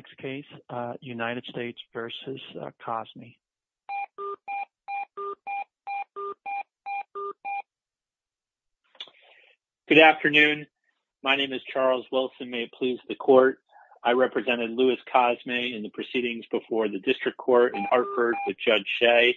Good afternoon. My name is Charles Wilson, may it please the court. I represented Louis Cosme in the proceedings before the district court in Hartford with Judge Shea,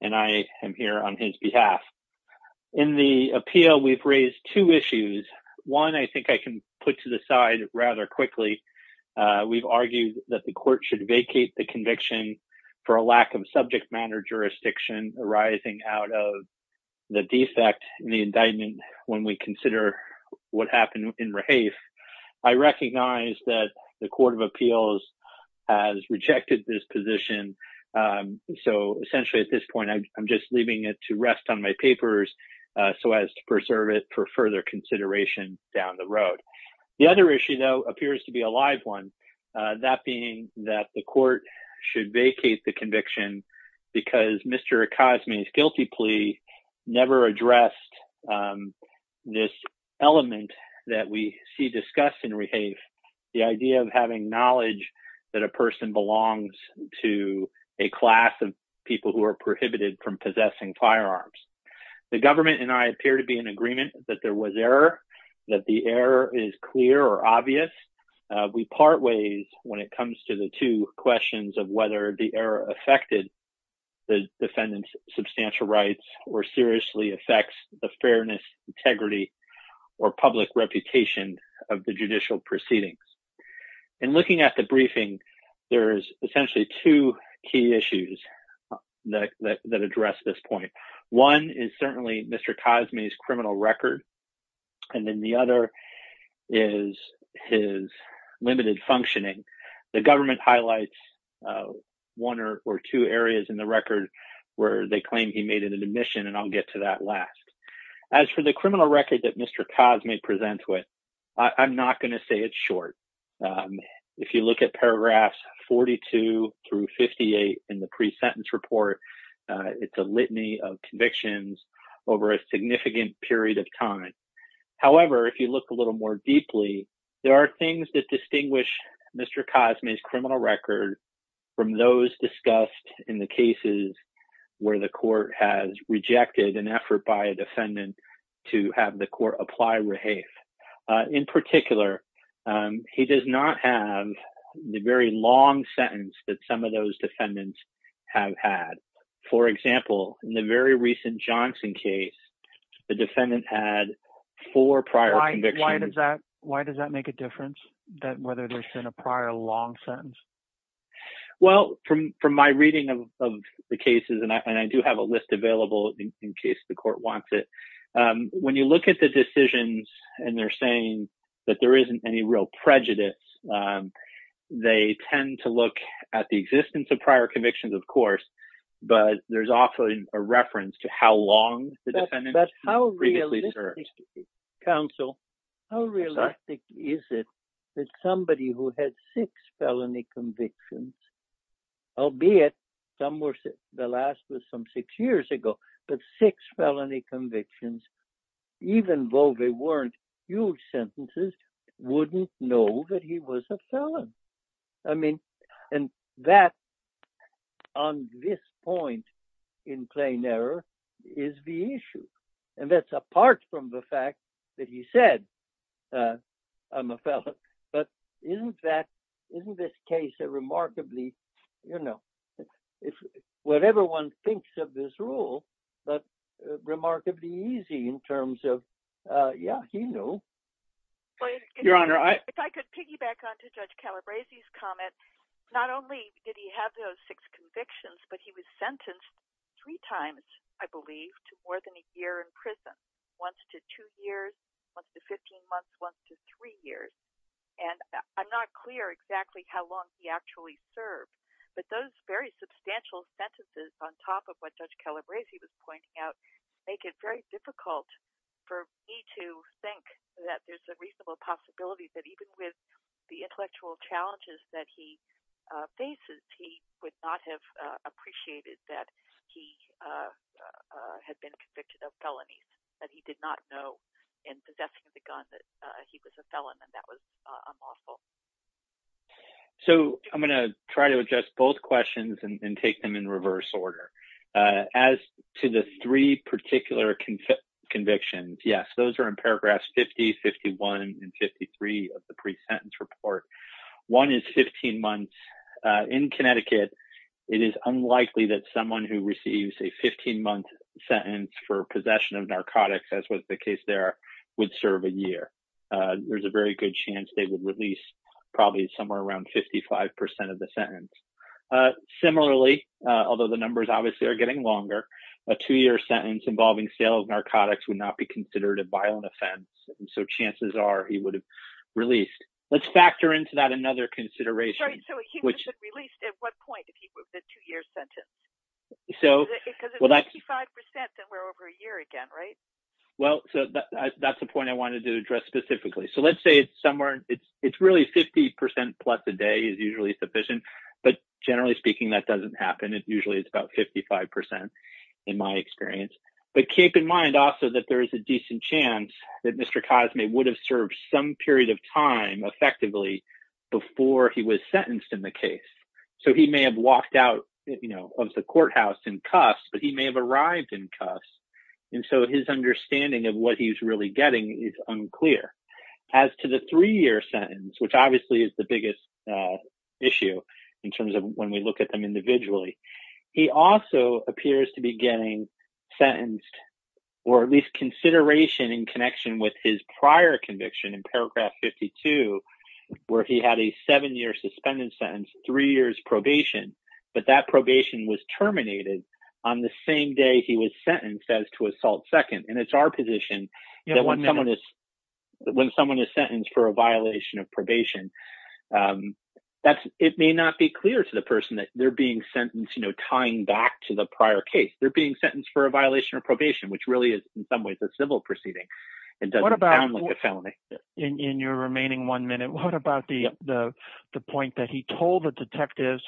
and I am here on his behalf. In the appeal, we've raised two issues. One, I think I can put to the side rather quickly. We've argued that the court should not have a judge in the district court. We've argued that the court should vacate the conviction for a lack of subject matter jurisdiction arising out of the defect in the indictment when we consider what happened in Rahafe. I recognize that the Court of Appeals has rejected this position. So essentially, at this point, I'm just leaving it to rest on my papers so as to preserve it for further consideration down the road. The other issue, though, appears to be a live one, that being that the court should vacate the conviction because Mr. Cosme's guilty plea never addressed this element that we see discussed in Rahafe. The idea of having knowledge that a person belongs to a class of people who are prohibited from possessing firearms. The government and I appear to be in agreement that there was error, that the error is clear or obvious. We part ways when it comes to the two questions of whether the error affected the defendant's substantial rights or seriously affects the fairness, integrity, or public reputation of the judicial proceedings. In looking at the briefing, there is essentially two key issues that address this point. One is certainly Mr. Cosme's criminal record, and then the other is his limited functioning. The government highlights one or two areas in the record where they claim he made an admission, and I'll get to that last. As for the criminal record that Mr. Cosme presents with, I'm not going to say it's short. If you look at paragraphs 42 through 58 in the pre-sentence report, it's a litany of convictions over a significant period of time. However, if you look a little more deeply, there are things that distinguish Mr. Cosme's criminal record from those discussed in the cases where the court has rejected an effort by a defendant to have the court apply Rahafe. In particular, he does not have the very long sentence that some of those defendants have had. For example, in the very recent Johnson case, the defendant had four prior convictions. Why does that make a difference, whether there's been a prior long sentence? Well, from my reading of the cases, and I do have a list available in case the court wants it, when you look at the decisions and they're saying that there isn't any real prejudice, they tend to look at the existence of prior convictions, of course, but there's often a reference to how long the defendant previously served. Counsel, how realistic is it that somebody who had six felony convictions, albeit the last was some six years ago, but six felony convictions, even though they weren't huge sentences, wouldn't know that he was a felon. I mean, and that, on this point, in plain error, is the issue. And that's apart from the fact that he said, I'm a felon. But isn't that, isn't this case a remarkably, you know, whatever one thinks of this rule, but remarkably easy in terms of, yeah, he knew. Your Honor, if I could piggyback on to Judge Calabrese's comment, not only did he have those six convictions, but he was sentenced three times, I believe, to more than a year in prison, once to two years, once to 15 months, once to three years. And I'm not clear exactly how long he actually served, but those very substantial sentences on top of what Judge Calabrese was pointing out make it very difficult for me to think that there's a reasonable possibility that even with the intellectual challenges that he faces, he would not have appreciated that he had been convicted of felonies, that he did not know in possessing the gun that he was a felon. And that was unlawful. So I'm going to try to address both questions and take them in reverse order. As to the three particular convictions, yes, those are in paragraphs 50, 51, and 53 of the pre-sentence report. One is 15 months. In Connecticut, it is unlikely that someone who receives a 15-month sentence for possession of narcotics, as was the case there, would serve a year. There's a very good chance they would release probably somewhere around 55 percent of the sentence. Similarly, although the numbers obviously are getting longer, a two-year sentence involving sale of narcotics would not be considered a violent offense. Let's factor into that another consideration. So he would have been released at what point if he was a two-year sentence? Because if it's 55 percent, then we're over a year again, right? Well, that's the point I wanted to address specifically. So let's say it's somewhere – it's really 50 percent plus a day is usually sufficient, but generally speaking, that doesn't happen. It usually is about 55 percent in my experience. But keep in mind also that there is a decent chance that Mr. Cosme would have served some period of time effectively before he was sentenced in the case. So he may have walked out of the courthouse in cuffs, but he may have arrived in cuffs. And so his understanding of what he's really getting is unclear. As to the three-year sentence, which obviously is the biggest issue in terms of when we look at them individually, he also appears to be getting sentenced or at least consideration in connection with his prior conviction in Paragraph 52, where he had a seven-year suspended sentence, three years probation. But that probation was terminated on the same day he was sentenced as to assault second. And it's our position that when someone is sentenced for a violation of probation, it may not be clear to the person that they're being sentenced tying back to the prior case. They're being sentenced for a violation of probation, which really is in some ways a civil proceeding. It doesn't sound like a felony. What about in your remaining one minute, what about the point that he told the detectives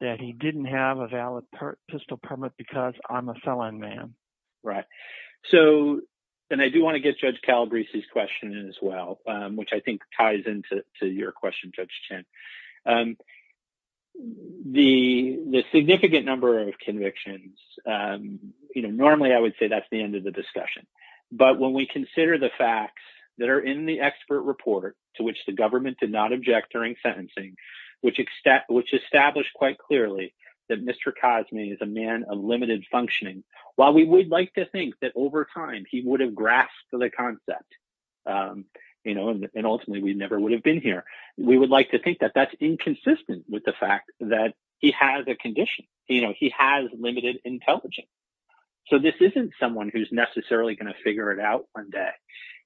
that he didn't have a valid pistol permit because I'm a felon man? Right. So then I do want to get Judge Calabrese's question in as well, which I think ties into your question, Judge Chen. The significant number of convictions, you know, normally I would say that's the end of the discussion. But when we consider the facts that are in the expert report to which the government did not object during sentencing, which established quite clearly that Mr. Cosme is a man of limited functioning. While we would like to think that over time he would have grasped the concept, you know, and ultimately we never would have been here. We would like to think that that's inconsistent with the fact that he has a condition. You know, he has limited intelligence. So this isn't someone who's necessarily going to figure it out one day.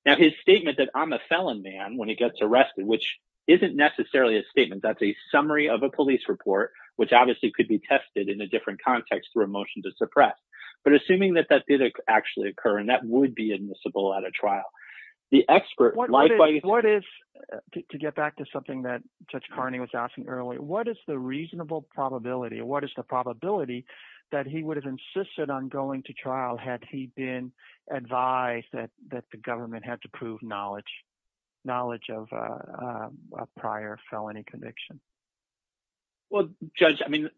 Now, his statement that I'm a felon man when he gets arrested, which isn't necessarily a statement. That's a summary of a police report, which obviously could be tested in a different context through a motion to suppress. But assuming that that did actually occur and that would be admissible at a trial. What is – to get back to something that Judge Carney was asking earlier, what is the reasonable probability? What is the probability that he would have insisted on going to trial had he been advised that the government had to prove knowledge of a prior felony conviction? Well, Judge, I mean,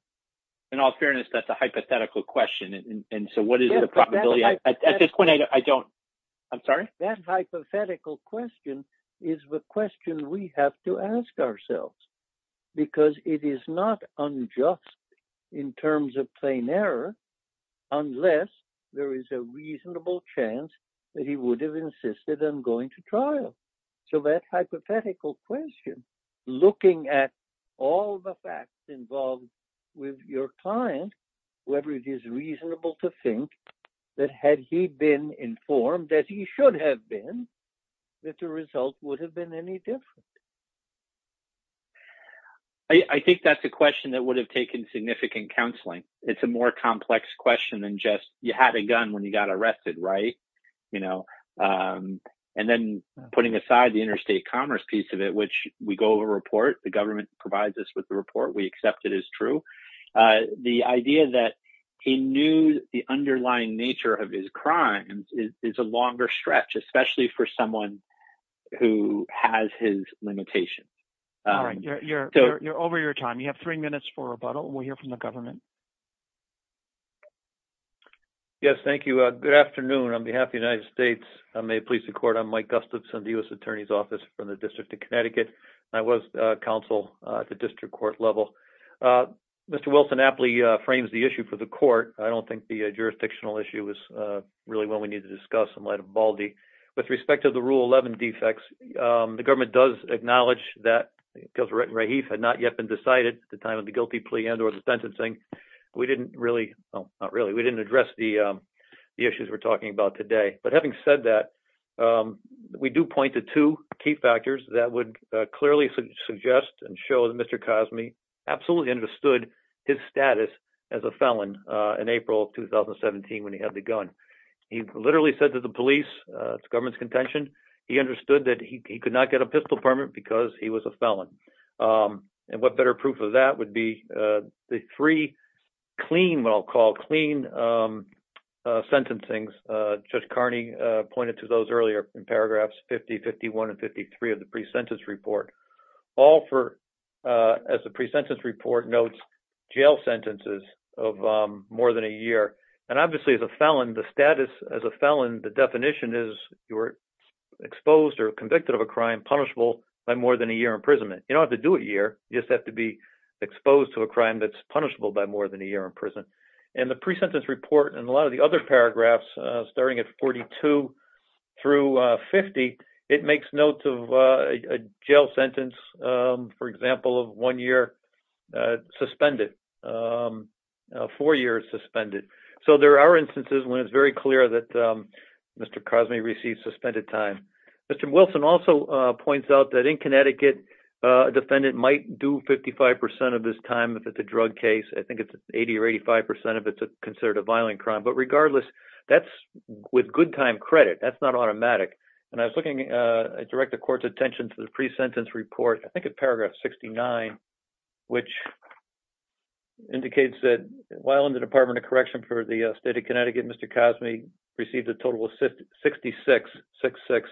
in all fairness, that's a hypothetical question. And so what is the probability? At this point, I don't – I'm sorry? That hypothetical question is the question we have to ask ourselves. Because it is not unjust in terms of plain error unless there is a reasonable chance that he would have insisted on going to trial. So that hypothetical question, looking at all the facts involved with your client, whether it is reasonable to think that had he been informed that he should have been, that the result would have been any different. I think that's a question that would have taken significant counseling. It's a more complex question than just you had a gun when you got arrested, right? And then putting aside the interstate commerce piece of it, which we go over a report. The government provides us with the report. We accept it as true. The idea that he knew the underlying nature of his crimes is a longer stretch, especially for someone who has his limitations. All right. You're over your time. You have three minutes for rebuttal. We'll hear from the government. Yes, thank you. Good afternoon. On behalf of the United States, I may please the court. I'm Mike Gustafson, the U.S. Attorney's Office from the District of Connecticut. I was counsel at the district court level. Mr. Wilson aptly frames the issue for the court. I don't think the jurisdictional issue is really what we need to discuss in light of Baldy. With respect to the rule 11 defects, the government does acknowledge that because written right, he had not yet been decided at the time of the guilty plea and or the sentencing. We didn't really not really. We didn't address the issues we're talking about today. But having said that, we do point to two key factors that would clearly suggest and show that Mr. Cosby absolutely understood his status as a felon in April 2017 when he had the gun. He literally said to the police, it's government's contention. He understood that he could not get a pistol permit because he was a felon. And what better proof of that would be the three clean, what I'll call clean sentencing's. Judge Carney pointed to those earlier in paragraphs 50, 51 and 53 of the pre-sentence report. All four as a pre-sentence report notes jail sentences of more than a year. And obviously, as a felon, the status as a felon, the definition is you're exposed or convicted of a crime punishable by more than a year imprisonment. You don't have to do a year. You just have to be exposed to a crime that's punishable by more than a year in prison. And the pre-sentence report and a lot of the other paragraphs starting at 42 through 50, it makes notes of a jail sentence, for example, of one year suspended, four years suspended. So there are instances when it's very clear that Mr. Cosby received suspended time. Mr. Wilson also points out that in Connecticut, a defendant might do 55 percent of his time if it's a drug case. I think it's 80 or 85 percent of it's considered a violent crime. But regardless, that's with good time credit. That's not automatic. And I was looking at direct the court's attention to the pre-sentence report. I think it's paragraph 69, which indicates that while in the Department of Correction for the state of Connecticut, Mr. Cosby received a total of 66, 66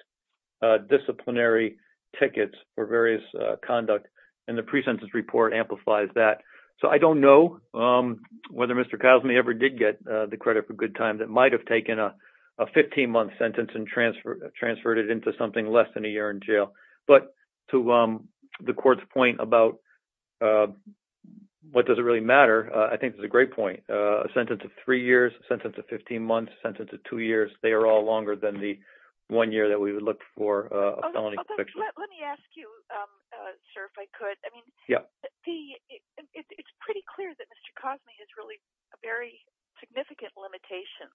disciplinary tickets for various conduct. And the pre-sentence report amplifies that. So I don't know whether Mr. Cosby ever did get the credit for good time that might have taken a 15 month sentence and transfer transferred it into something less than a year in jail. But to the court's point about what does it really matter, I think it's a great point. A sentence of three years, a sentence of 15 months, a sentence of two years, they are all longer than the one year that we would look for a felony conviction. Let me ask you, sir, if I could. I mean, it's pretty clear that Mr. Cosby has really very significant limitations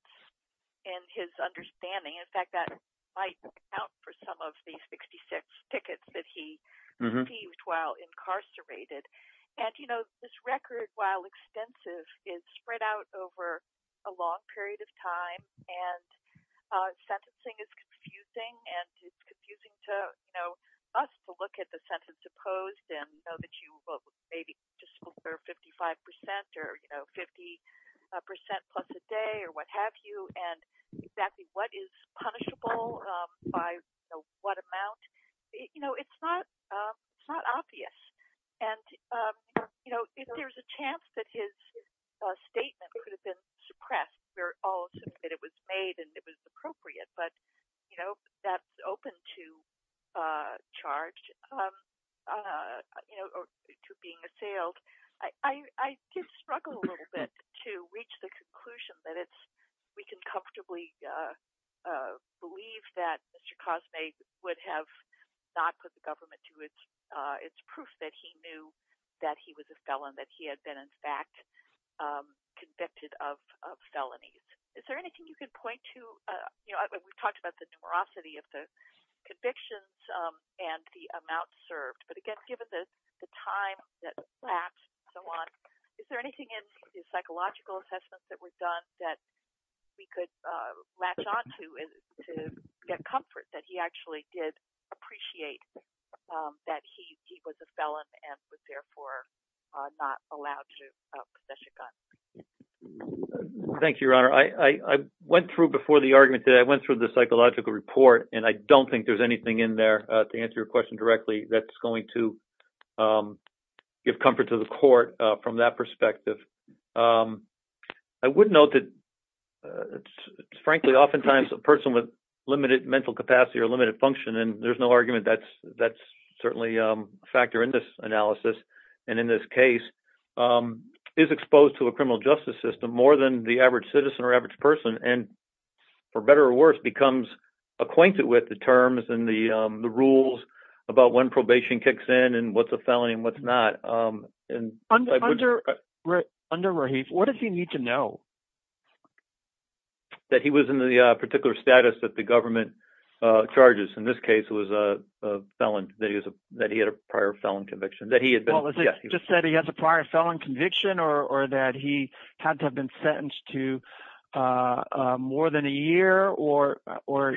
in his understanding. In fact, that might count for some of the 66 tickets that he received while incarcerated. And, you know, this record, while extensive, is spread out over a long period of time and sentencing is confusing. And it's confusing to us to look at the sentence opposed and know that you may be just over 55 percent or 50 percent plus a day or what have you. And exactly what is punishable by what amount, you know, it's not it's not obvious. And, you know, if there's a chance that his statement could have been suppressed, we're all that it was made and it was appropriate. But, you know, that's open to charge, you know, to being assailed. I did struggle a little bit to reach the conclusion that it's we can comfortably believe that Mr. Cosby would have not put the government to it. It's proof that he knew that he was a felon, that he had been in fact convicted of felonies. Is there anything you can point to? You know, we've talked about the numerosity of the convictions and the amount served. But again, given the time that lapsed and so on, is there anything in his psychological assessments that was done that we could latch on to to get comfort that he actually did appreciate that he was a felon and was therefore not allowed to possess a gun? Thank you, Your Honor. I went through before the argument that I went through the psychological report and I don't think there's anything in there to answer your question directly. That's going to give comfort to the court from that perspective. I would note that, frankly, oftentimes a person with limited mental capacity or limited function, and there's no argument that that's certainly a factor in this analysis. And in this case is exposed to a criminal justice system more than the average citizen or average person. And for better or worse, becomes acquainted with the terms and the rules about when probation kicks in and what's a felony and what's not. Under Rahif, what does he need to know? That he was in the particular status that the government charges. In this case, it was a felon, that he had a prior felon conviction, that he had been – Well, is it just that he has a prior felon conviction or that he had to have been sentenced to more than a year or what?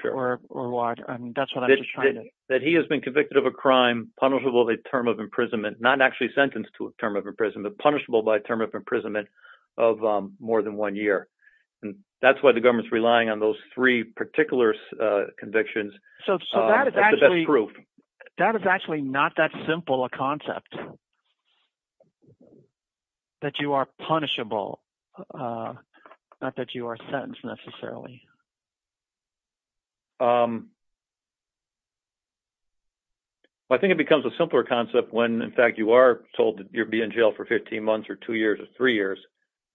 That he has been convicted of a crime punishable by a term of imprisonment, not actually sentenced to a term of imprisonment, but punishable by a term of imprisonment of more than one year. And that's why the government is relying on those three particular convictions as the best proof. So that is actually not that simple a concept, that you are punishable, not that you are sentenced necessarily. I think it becomes a simpler concept when, in fact, you are told that you'll be in jail for 15 months or two years or three years,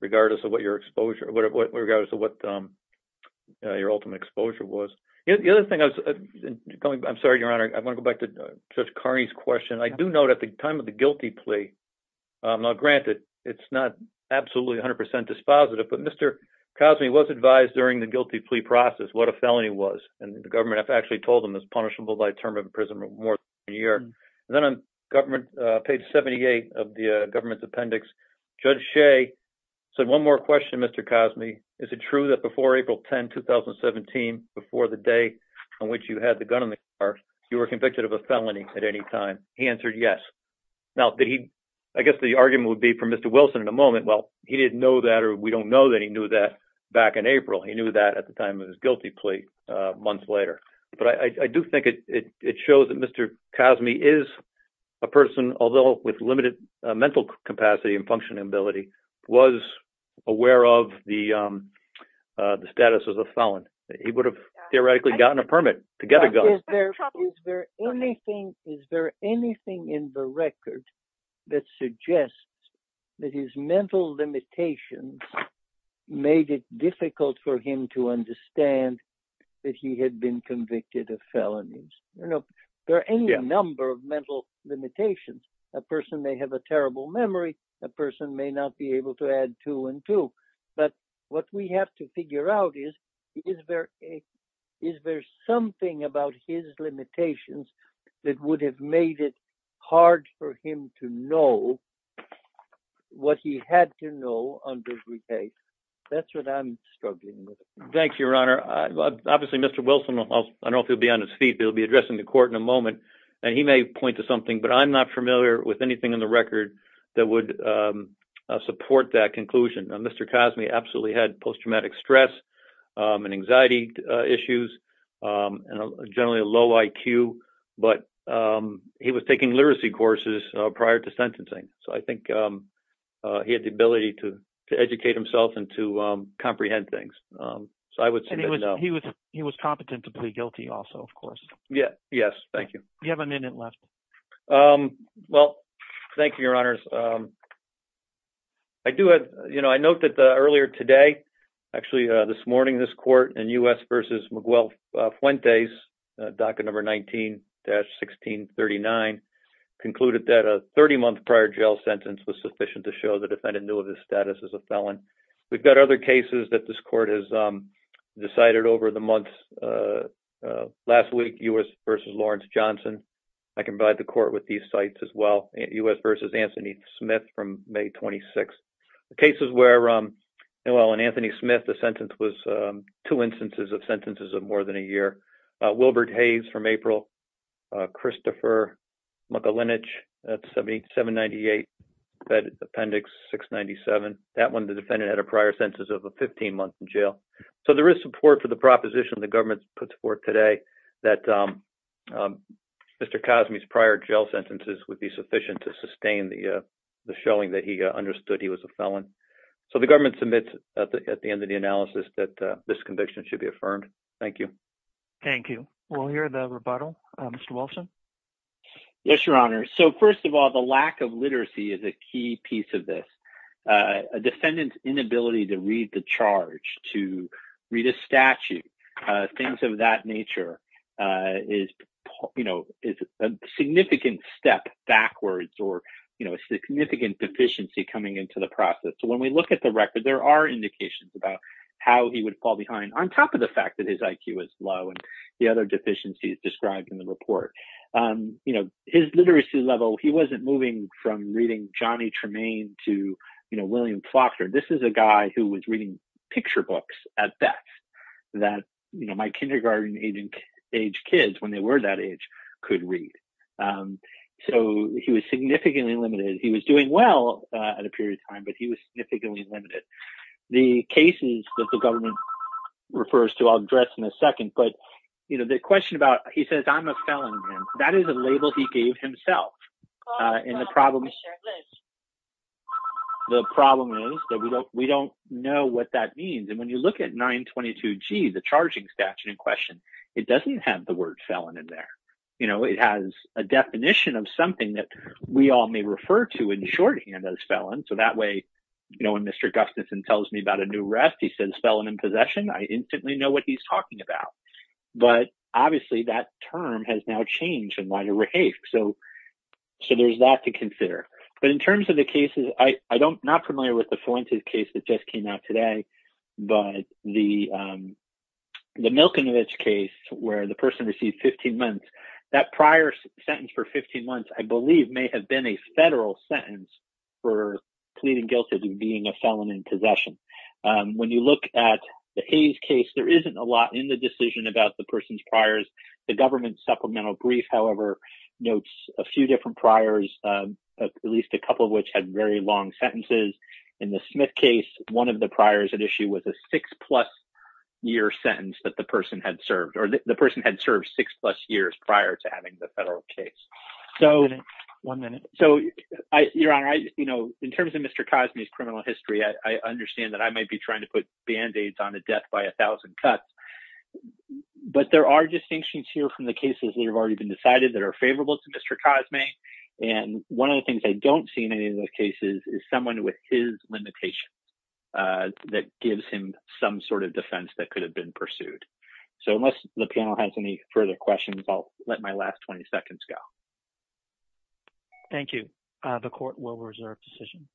regardless of what your exposure – regardless of what your ultimate exposure was. The other thing I was – I'm sorry, Your Honor, I want to go back to Judge Carney's question. I do note at the time of the guilty plea – now, granted, it's not absolutely 100 percent dispositive, but Mr. Cosby was advised during the guilty plea process what a felony was. And the government has actually told him it's punishable by a term of imprisonment of more than a year. And then on page 78 of the government's appendix, Judge Shea said, one more question, Mr. Cosby. Is it true that before April 10, 2017, before the day on which you had the gun in the car, you were convicted of a felony at any time? He answered yes. Now, I guess the argument would be for Mr. Wilson in a moment, well, he didn't know that or we don't know that he knew that back in April. He knew that at the time of his guilty plea months later. But I do think it shows that Mr. Cosby is a person, although with limited mental capacity and functioning ability, was aware of the status as a felon. He would have theoretically gotten a permit to get a gun. Is there anything in the record that suggests that his mental limitations made it difficult for him to understand that he had been convicted of felonies? There are any number of mental limitations. A person may have a terrible memory. A person may not be able to add two and two. But what we have to figure out is, is there something about his limitations that would have made it hard for him to know what he had to know on the day? That's what I'm struggling with. Thank you, Your Honor. Obviously, Mr. Wilson, I don't know if he'll be on his feet, but he'll be addressing the court in a moment. And he may point to something, but I'm not familiar with anything in the record that would support that conclusion. Mr. Cosby absolutely had post-traumatic stress and anxiety issues and generally a low IQ, but he was taking literacy courses prior to sentencing. So I think he had the ability to educate himself and to comprehend things. So I would say no. He was competent to plead guilty also, of course. Yes. Thank you. You have a minute left. Well, thank you, Your Honors. I note that earlier today, actually this morning, this court in U.S. v. Miguel Fuentes, docket number 19-1639, concluded that a 30-month prior jail sentence was sufficient to show the defendant knew of his status as a felon. We've got other cases that this court has decided over the months. Last week, U.S. v. Lawrence Johnson. I can provide the court with these sites as well. U.S. v. Anthony Smith from May 26th. Cases where, well, in Anthony Smith, the sentence was two instances of sentences of more than a year. Wilbert Hayes from April. Christopher Mucalinich, that's 798, Appendix 697. That one, the defendant had a prior sentence of 15 months in jail. So there is support for the proposition the government puts forth today that Mr. Cosme's prior jail sentences would be sufficient to sustain the showing that he understood he was a felon. So the government submits at the end of the analysis that this conviction should be affirmed. Thank you. Thank you. We'll hear the rebuttal. Mr. Wilson? Yes, Your Honors. So, first of all, the lack of literacy is a key piece of this. A defendant's inability to read the charge, to read a statute, things of that nature is, you know, is a significant step backwards or, you know, a significant deficiency coming into the process. So when we look at the record, there are indications about how he would fall behind on top of the fact that his IQ is low and the other deficiencies described in the report. You know, his literacy level, he wasn't moving from reading Johnny Tremaine to, you know, William Faulkner. This is a guy who was reading picture books at best that, you know, my kindergarten age kids, when they were that age, could read. So he was significantly limited. He was doing well at a period of time, but he was significantly limited. The cases that the government refers to, I'll address in a second, but, you know, the question about, he says, I'm a felon. That is a label he gave himself. And the problem is that we don't know what that means. And when you look at 922G, the charging statute in question, it doesn't have the word felon in there. You know, it has a definition of something that we all may refer to in shorthand as felon. So that way, you know, when Mr. Gustafson tells me about a new arrest, he says felon in possession. I instantly know what he's talking about. But obviously, that term has now changed in light of Rahafe. So there's that to consider. But in terms of the cases, I'm not familiar with the Fuentes case that just came out today. But the Milkenovich case where the person received 15 months, that prior sentence for 15 months, I believe, may have been a federal sentence. For pleading guilty to being a felon in possession. When you look at the Hayes case, there isn't a lot in the decision about the person's priors. The government supplemental brief, however, notes a few different priors, at least a couple of which had very long sentences. In the Smith case, one of the priors at issue was a six-plus-year sentence that the person had served. Or the person had served six-plus years prior to having the federal case. One minute. Your Honor, in terms of Mr. Cosme's criminal history, I understand that I might be trying to put Band-Aids on a death by a thousand cuts. But there are distinctions here from the cases that have already been decided that are favorable to Mr. Cosme. And one of the things I don't see in any of those cases is someone with his limitations that gives him some sort of defense that could have been pursued. So unless the panel has any further questions, I'll let my last 20 seconds go. Thank you. The court will reserve decision.